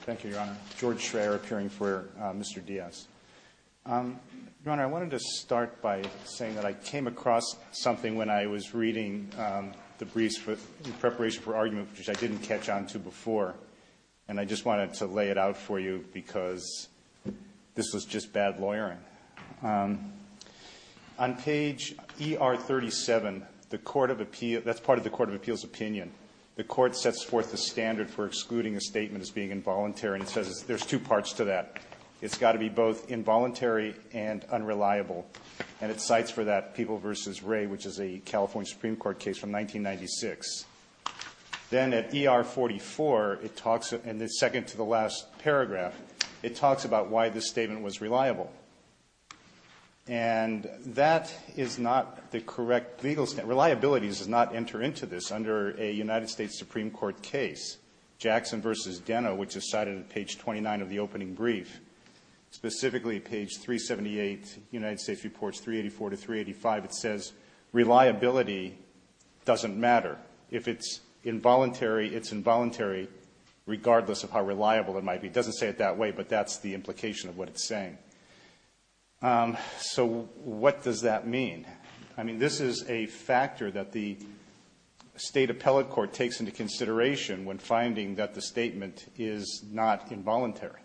Thank you, Your Honor. George Schreyer, appearing for Mr. Diaz. Your Honor, I wanted to start by saying that I came across something when I was reading the briefs in preparation for argument, which I didn't catch on to before, and I just wanted to lay it out for you because this was just bad lawyering. On page ER 37, that's part of the Court of Appeals opinion. The Court sets forth the standard for excluding a statement as being involuntary, and it says there's two parts to that. It's got to be both involuntary and unreliable, and it cites for that People v. Wray, which is a California Supreme Court case from 1996. Then at ER 44, in the second to the last paragraph, it talks about why this statement was reliable. And that is not the correct legal standard. Reliability does not enter into this under a United States Supreme Court case, Jackson v. Denno, which is cited at page 29 of the opening brief. Specifically, page 378, United States Reports 384 to 385, it says reliability doesn't matter. If it's involuntary, it's involuntary regardless of how reliable it might be. It doesn't say it that way, but that's the implication of what it's saying. So what does that mean? I mean, this is a factor that the State Appellate Court takes into consideration when finding that the statement is not involuntary.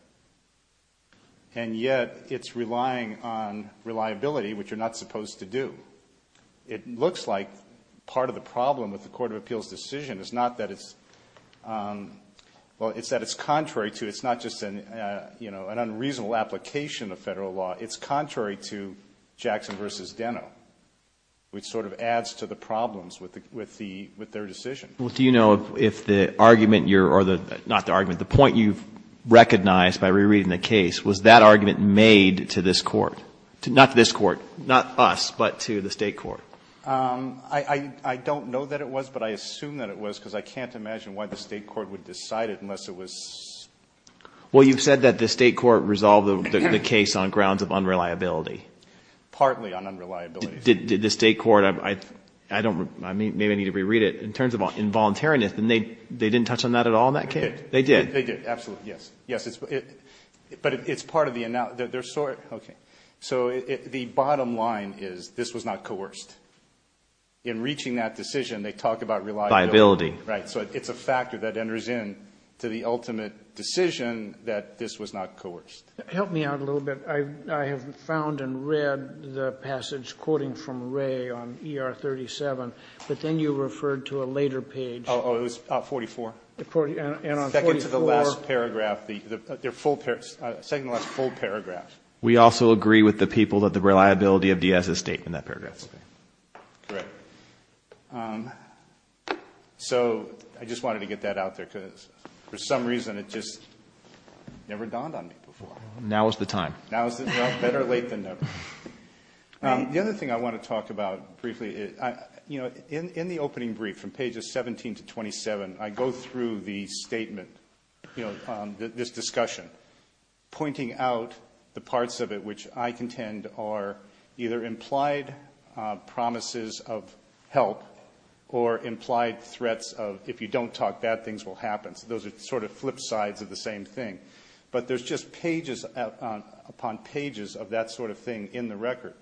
And yet it's relying on reliability, which you're not supposed to do. It looks like part of the problem with the Court of Appeals' decision is not that it's, well, it's that it's contrary to, it's not just an unreasonable application of Federal law. It's contrary to Jackson v. Denno, which sort of adds to the problems with the, with their decision. Well, do you know if the argument you're, or the, not the argument, the point you've recognized by rereading the case, was that argument made to this Court? Not to this Court, not us, but to the State court? I don't know that it was, but I assume that it was, because I can't imagine why the State court would decide it unless it was... Well, you've said that the State court resolved the case on grounds of unreliability. Partly on unreliability. Did the State court, I don't, maybe I need to reread it. In terms of involuntariness, they didn't touch on that at all in that case? They did. They did, absolutely, yes. Yes, it's, but it's part of the, they're sort, okay. So the bottom line is this was not coerced. In reaching that decision, they talk about reliability. Right, so it's a factor that enters in to the ultimate decision that this was not coerced. Help me out a little bit. I have found and read the passage quoting from Ray on ER 37, but then you referred to a later page. Oh, it was 44. And on 44... Second to the last paragraph, second to the last full paragraph. We also agree with the people that the reliability of D.S. is state in that paragraph. That's correct. So I just wanted to get that out there, because for some reason it just never dawned on me before. Now is the time. Now is the, better late than never. The other thing I want to talk about briefly is, you know, in the opening brief from pages 17 to 27, I go through the statement, you know, this discussion, pointing out the parts of it which I contend are either implied promises of help or implied threats of if you don't talk, bad things will happen. So those are sort of flip sides of the same thing. But there's just pages upon pages of that sort of thing in the record.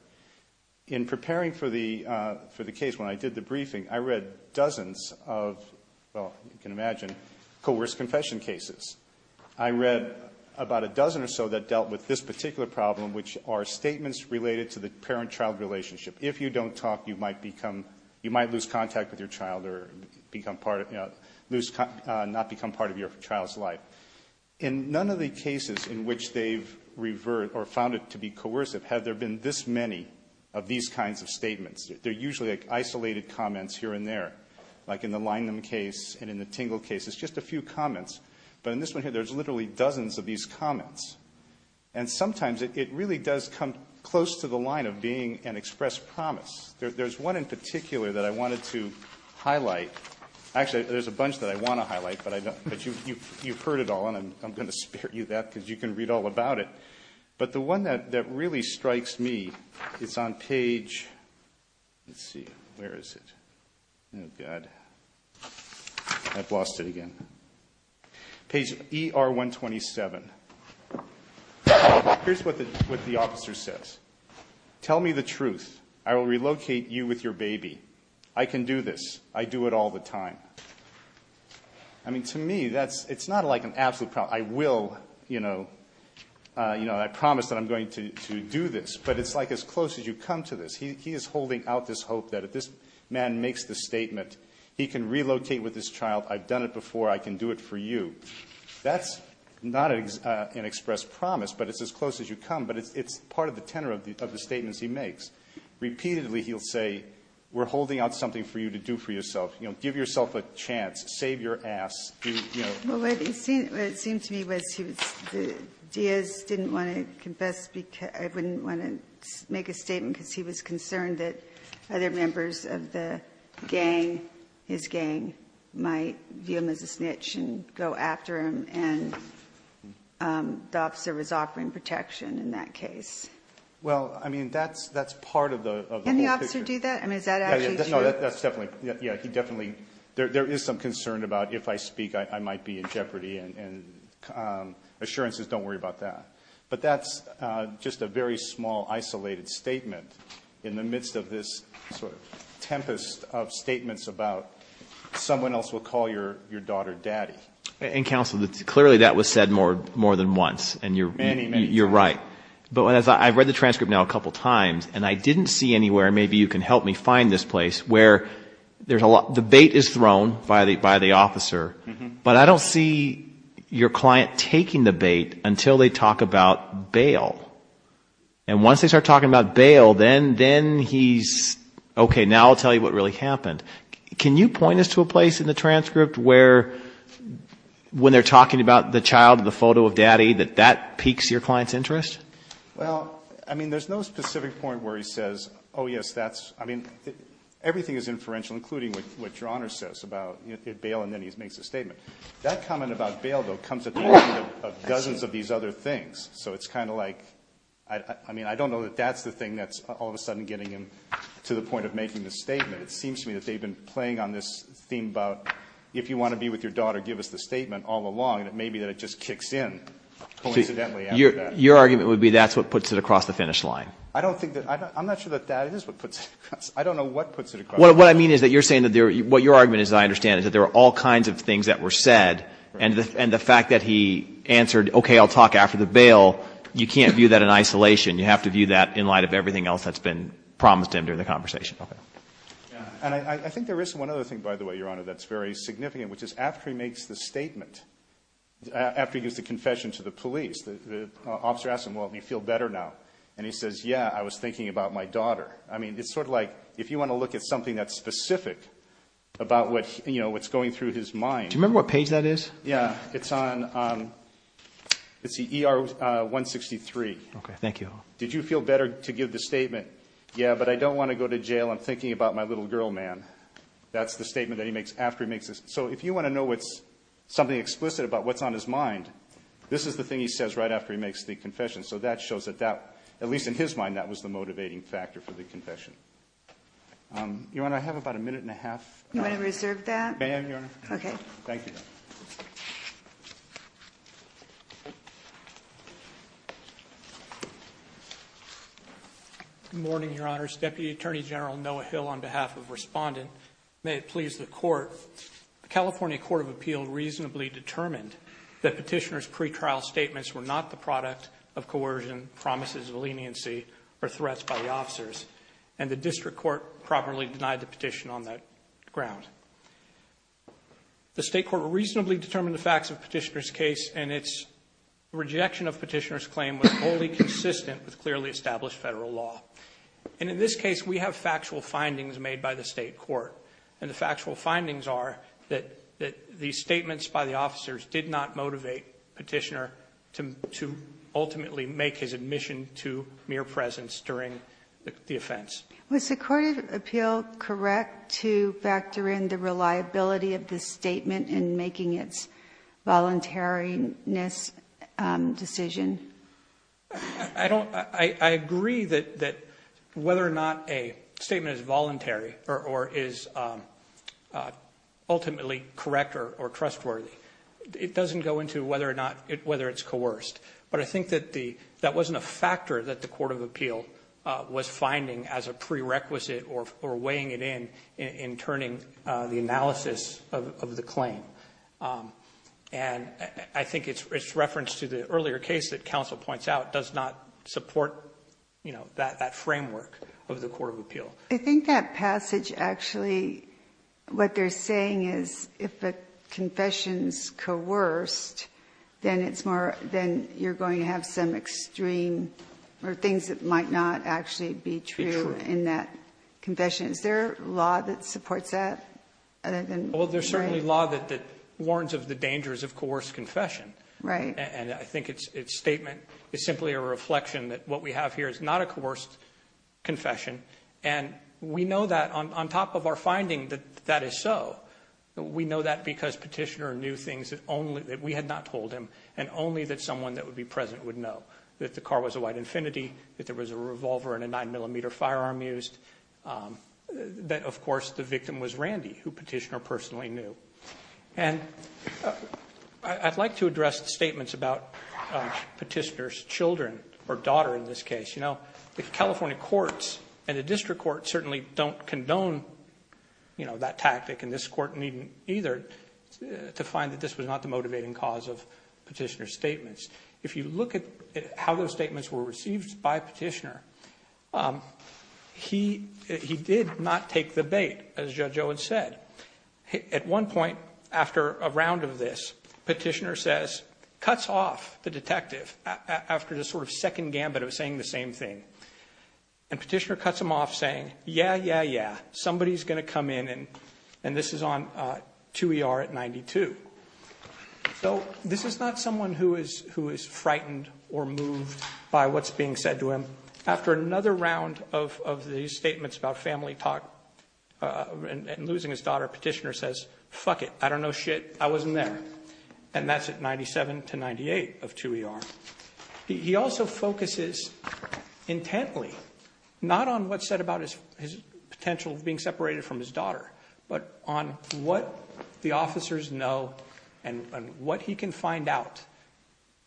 In preparing for the case when I did the briefing, I read dozens of, well, you can imagine, coerced confession cases. I read about a dozen or so that dealt with this particular problem, which are statements related to the parent-child relationship. If you don't talk, you might become, you might lose contact with your child or become part of, lose, not become part of your child's life. In none of the cases in which they've revert or found it to be coercive have there been this many of these kinds of statements. They're usually like isolated comments here and there, like in the Langham case and in the Tingle case. It's just a few comments. But in this one here, there's literally dozens of these comments. And sometimes it really does come close to the line of being an express promise. There's one in particular that I wanted to highlight. Actually, there's a bunch that I want to highlight, but you've heard it all. And I'm going to spare you that because you can read all about it. But the one that really strikes me is on page, let's see, where is it? Oh, God. I've lost it again. Page ER-127. Here's what the officer says. Tell me the truth. I will relocate you with your baby. I can do this. I do it all the time. I mean, to me, it's not like an absolute promise. I will, you know, I promise that I'm going to do this. But it's like as close as you come to this. He is holding out this hope that if this man makes this statement, he can relocate with this child. I've done it before. I can do it for you. That's not an express promise, but it's as close as you come. But it's part of the tenor of the statements he makes. Repeatedly, he'll say, we're holding out something for you to do for yourself. You know, give yourself a chance. Save your ass. You know. Well, what it seemed to me was Diaz didn't want to confess. I wouldn't want to make a statement because he was concerned that other members of the gang, his gang, might view him as a snitch and go after him. And the officer was offering protection in that case. Well, I mean, that's part of the whole picture. Can the officer do that? I mean, is that actually true? No, that's definitely. Yeah, he definitely. There is some concern about if I speak, I might be in jeopardy. And assurances, don't worry about that. But that's just a very small, isolated statement in the midst of this sort of tempest of statements about someone else will call your daughter daddy. And, counsel, clearly that was said more than once. Many, many times. And you're right. But as I've read the transcript now a couple of times, and I didn't see anywhere, maybe you can help me find this place, where the bait is thrown by the officer, but I don't see your client taking the bait until they talk about bail. And once they start talking about bail, then he's, okay, now I'll tell you what really happened. Can you point us to a place in the transcript where, when they're talking about the child, the photo of daddy, that that piques your client's interest? Well, I mean, there's no specific point where he says, oh, yes, that's, I mean, everything is inferential, including what Your Honor says about bail, and then he makes a statement. That comment about bail, though, comes at the end of dozens of these other things. So it's kind of like, I mean, I don't know that that's the thing that's all of a sudden getting him to the point of making the statement. It seems to me that they've been playing on this theme about if you want to be with your daughter, give us the statement all along. And it may be that it just kicks in coincidentally after that. Your argument would be that's what puts it across the finish line. I don't think that that's what puts it across. I don't know what puts it across. What I mean is that you're saying that what your argument is, I understand, is that there are all kinds of things that were said, and the fact that he answered, okay, I'll talk after the bail, you can't view that in isolation. You have to view that in light of everything else that's been promised to him during the conversation. Okay. And I think there is one other thing, by the way, Your Honor, that's very significant, which is after he makes the statement, after he gives the confession to the police, the officer asks him, well, do you feel better now? And he says, yeah, I was thinking about my daughter. I mean, it's sort of like if you want to look at something that's specific about what's going through his mind. Do you remember what page that is? Yeah. It's on ER 163. Okay. Thank you. Did you feel better to give the statement, yeah, but I don't want to go to jail. I'm thinking about my little girl, man. That's the statement that he makes after he makes it. So if you want to know what's something explicit about what's on his mind, this is the thing he says right after he makes the confession. So that shows that that, at least in his mind, that was the motivating factor for the confession. Your Honor, I have about a minute and a half. You want to reserve that? May I, Your Honor? Okay. Thank you. Good morning, Your Honors. Deputy Attorney General Noah Hill on behalf of Respondent. May it please the Court. The California Court of Appeal reasonably determined that Petitioner's pretrial statements were not the product of coercion, promises of leniency, or threats by the officers, and the District Court properly denied the petition on that ground. The State Court reasonably determined the facts of Petitioner's case, and its rejection of Petitioner's claim was wholly consistent with clearly established federal law. And in this case, we have factual findings made by the State Court, and the factual findings are that the statements by the officers did not motivate Petitioner to ultimately make his admission to mere presence during the offense. Was the Court of Appeal correct to factor in the reliability of the statement in making its voluntariness decision? I agree that whether or not a statement is voluntary or is ultimately correct or trustworthy, it doesn't go into whether it's coerced. But I think that that wasn't a factor that the Court of Appeal was finding as a prerequisite or weighing it in, in turning the analysis of the claim. And I think its reference to the earlier case that counsel points out does not support, you know, that framework of the Court of Appeal. I think that passage actually, what they're saying is if a confession is coerced, then it's more, then you're going to have some extreme, or things that might not actually be true in that confession. Is there a law that supports that? Well, there's certainly law that warns of the dangers of coerced confession. Right. And I think its statement is simply a reflection that what we have here is not a coerced confession. And we know that on top of our finding that that is so, we know that because Petitioner knew things that we had not told him, and only that someone that would be present would know. That the car was a white Infiniti, that there was a revolver and a 9mm firearm used, that, of course, the victim was Randy, who Petitioner personally knew. And I'd like to address the statements about Petitioner's children, or daughter in this case. You know, the California courts and the district courts certainly don't condone, you know, that tactic, and this court needn't either, to find that this was not the motivating cause of Petitioner's statements. If you look at how those statements were received by Petitioner, he did not take the bait, as Judge Owens said. At one point, after a round of this, Petitioner says, cuts off the detective, after the sort of second gambit of saying the same thing. And Petitioner cuts him off saying, yeah, yeah, yeah, somebody's going to come in, and this is on 2 ER at 92. So, this is not someone who is frightened or moved by what's being said to him. After another round of these statements about family talk and losing his daughter, Petitioner says, fuck it, I don't know shit, I wasn't there. And that's at 97 to 98 of 2 ER. He also focuses intently, not on what's said about his potential of being separated from his daughter, but on what the officers know and what he can find out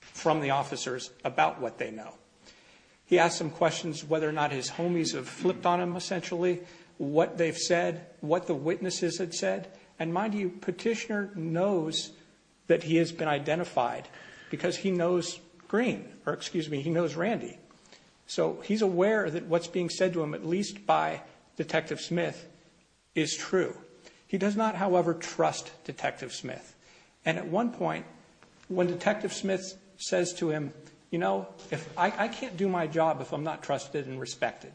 from the officers about what they know. He asks them questions whether or not his homies have flipped on him, essentially, what they've said, what the witnesses had said. And mind you, Petitioner knows that he has been identified because he knows Green, or excuse me, he knows Randy. So, he's aware that what's being said to him, at least by Detective Smith, is true. He does not, however, trust Detective Smith. And at one point, when Detective Smith says to him, you know, I can't do my job if I'm not trusted and respected.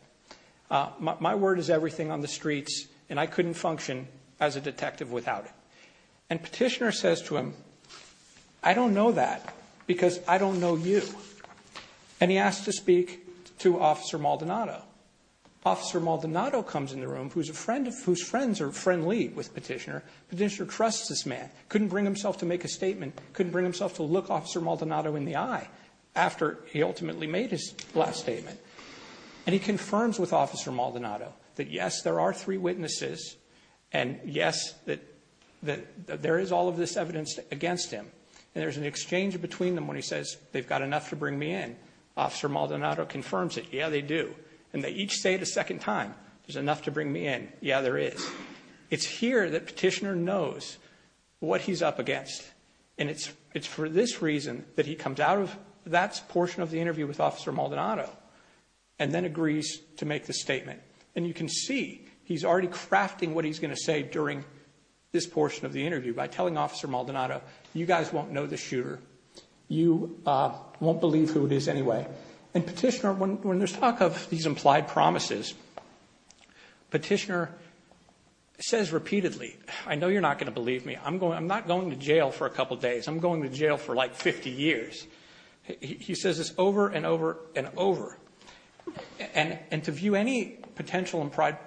My word is everything on the streets, and I couldn't function as a detective without it. And Petitioner says to him, I don't know that because I don't know you. And he asks to speak to Officer Maldonado. Officer Maldonado comes in the room, whose friends are friendly with Petitioner. Petitioner trusts this man, couldn't bring himself to make a statement, couldn't bring himself to look Officer Maldonado in the eye after he ultimately made his last statement. And he confirms with Officer Maldonado that yes, there are three witnesses, and yes, that there is all of this evidence against him. And there's an exchange between them when he says, they've got enough to bring me in. Officer Maldonado confirms it. Yeah, they do. And they each say it a second time. There's enough to bring me in. Yeah, there is. It's here that Petitioner knows what he's up against. And it's for this reason that he comes out of that portion of the interview with Officer Maldonado, and then agrees to make the statement. And you can see he's already crafting what he's going to say during this portion of the interview by telling Officer Maldonado, you guys won't know the shooter. You won't believe who it is anyway. And Petitioner, when there's talk of these implied promises, Petitioner says repeatedly, I know you're not going to believe me. I'm not going to jail for a couple days. I'm going to jail for, like, 50 years. He says this over and over and over. And to view any potential implied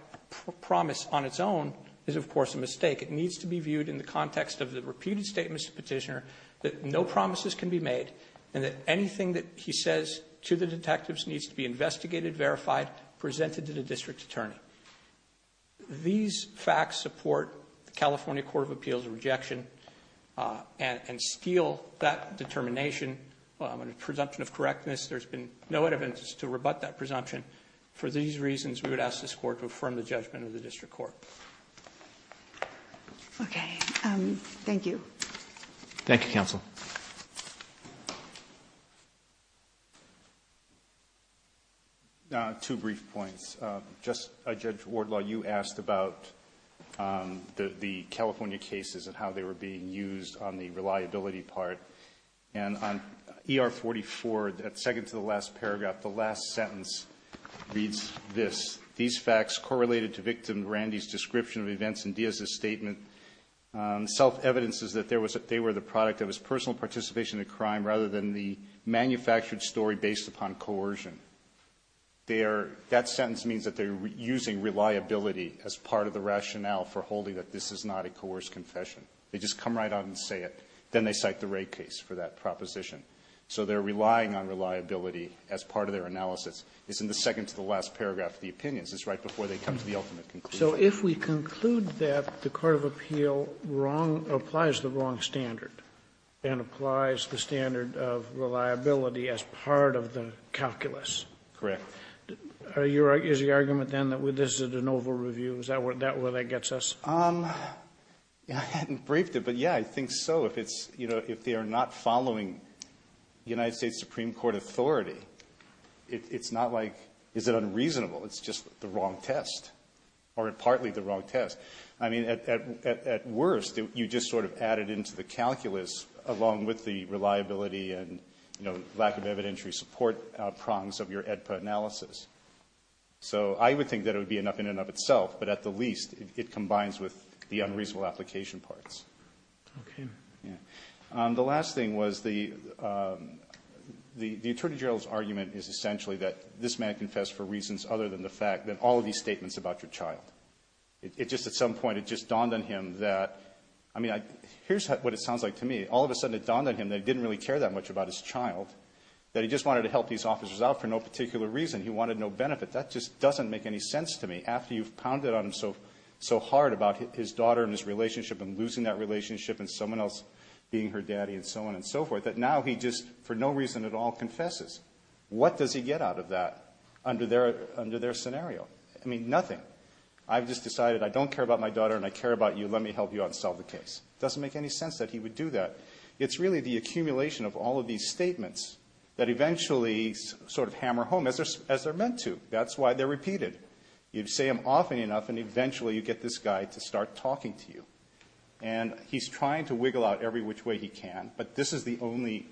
promise on its own is, of course, a mistake. It needs to be viewed in the context of the repeated statements to Petitioner that no promises can be made and that anything that he says to the detectives needs to be investigated, verified, presented to the district attorney. These facts support the California Court of Appeals' rejection and steal that determination. Well, I'm going to presumption of correctness. There's been no evidence to rebut that presumption. And for these reasons, we would ask this court to affirm the judgment of the district court. Okay. Thank you. Thank you, counsel. Two brief points. Just, Judge Wardlaw, you asked about the California cases and how they were being used on the reliability part. And on ER44, that second to the last paragraph, the last sentence reads this. These facts correlated to victim Randy's description of events in Diaz's statement. Self-evidence is that they were the product of his personal participation in the crime rather than the manufactured story based upon coercion. That sentence means that they're using reliability as part of the rationale for holding that this is not a coerced confession. They just come right out and say it. Then they cite the Wray case for that proposition. So they're relying on reliability as part of their analysis. It's in the second to the last paragraph of the opinions. It's right before they come to the ultimate conclusion. So if we conclude that the court of appeal wrong or applies the wrong standard and applies the standard of reliability as part of the calculus. Correct. Is the argument then that this is an oval review? Is that where that gets us? I hadn't briefed it, but, yeah, I think so. If they are not following United States Supreme Court authority, it's not like is it unreasonable. It's just the wrong test or partly the wrong test. I mean, at worst, you just sort of add it into the calculus along with the reliability and lack of evidentiary support prongs of your AEDPA analysis. So I would think that it would be enough in and of itself. But at the least, it combines with the unreasonable application parts. Okay. Yeah. The last thing was the attorney general's argument is essentially that this man confessed for reasons other than the fact that all of these statements about your child. It just at some point, it just dawned on him that, I mean, here's what it sounds like to me. All of a sudden, it dawned on him that he didn't really care that much about his child, that he just wanted to help these officers out for no particular reason. He wanted no benefit. That just doesn't make any sense to me. After you've pounded on him so hard about his daughter and his relationship and losing that relationship and someone else being her daddy and so on and so forth, that now he just for no reason at all confesses. What does he get out of that under their scenario? I mean, nothing. I've just decided I don't care about my daughter and I care about you. Let me help you out and solve the case. It doesn't make any sense that he would do that. It's really the accumulation of all of these statements that eventually sort of hammer home, as they're meant to. That's why they're repeated. You say them often enough and eventually you get this guy to start talking to you. And he's trying to wiggle out every which way he can, but this is the only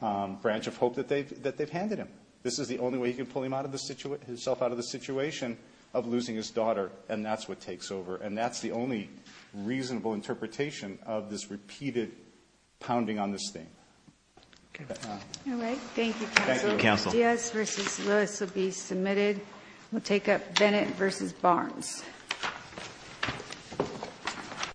branch of hope that they've handed him. This is the only way he can pull himself out of the situation of losing his daughter, and that's what takes over. And that's the only reasonable interpretation of this repeated pounding on this thing. All right. Thank you, Counsel. Thank you, Counsel. Rodriguez v. Lewis will be submitted. We'll take up Bennett v. Barnes.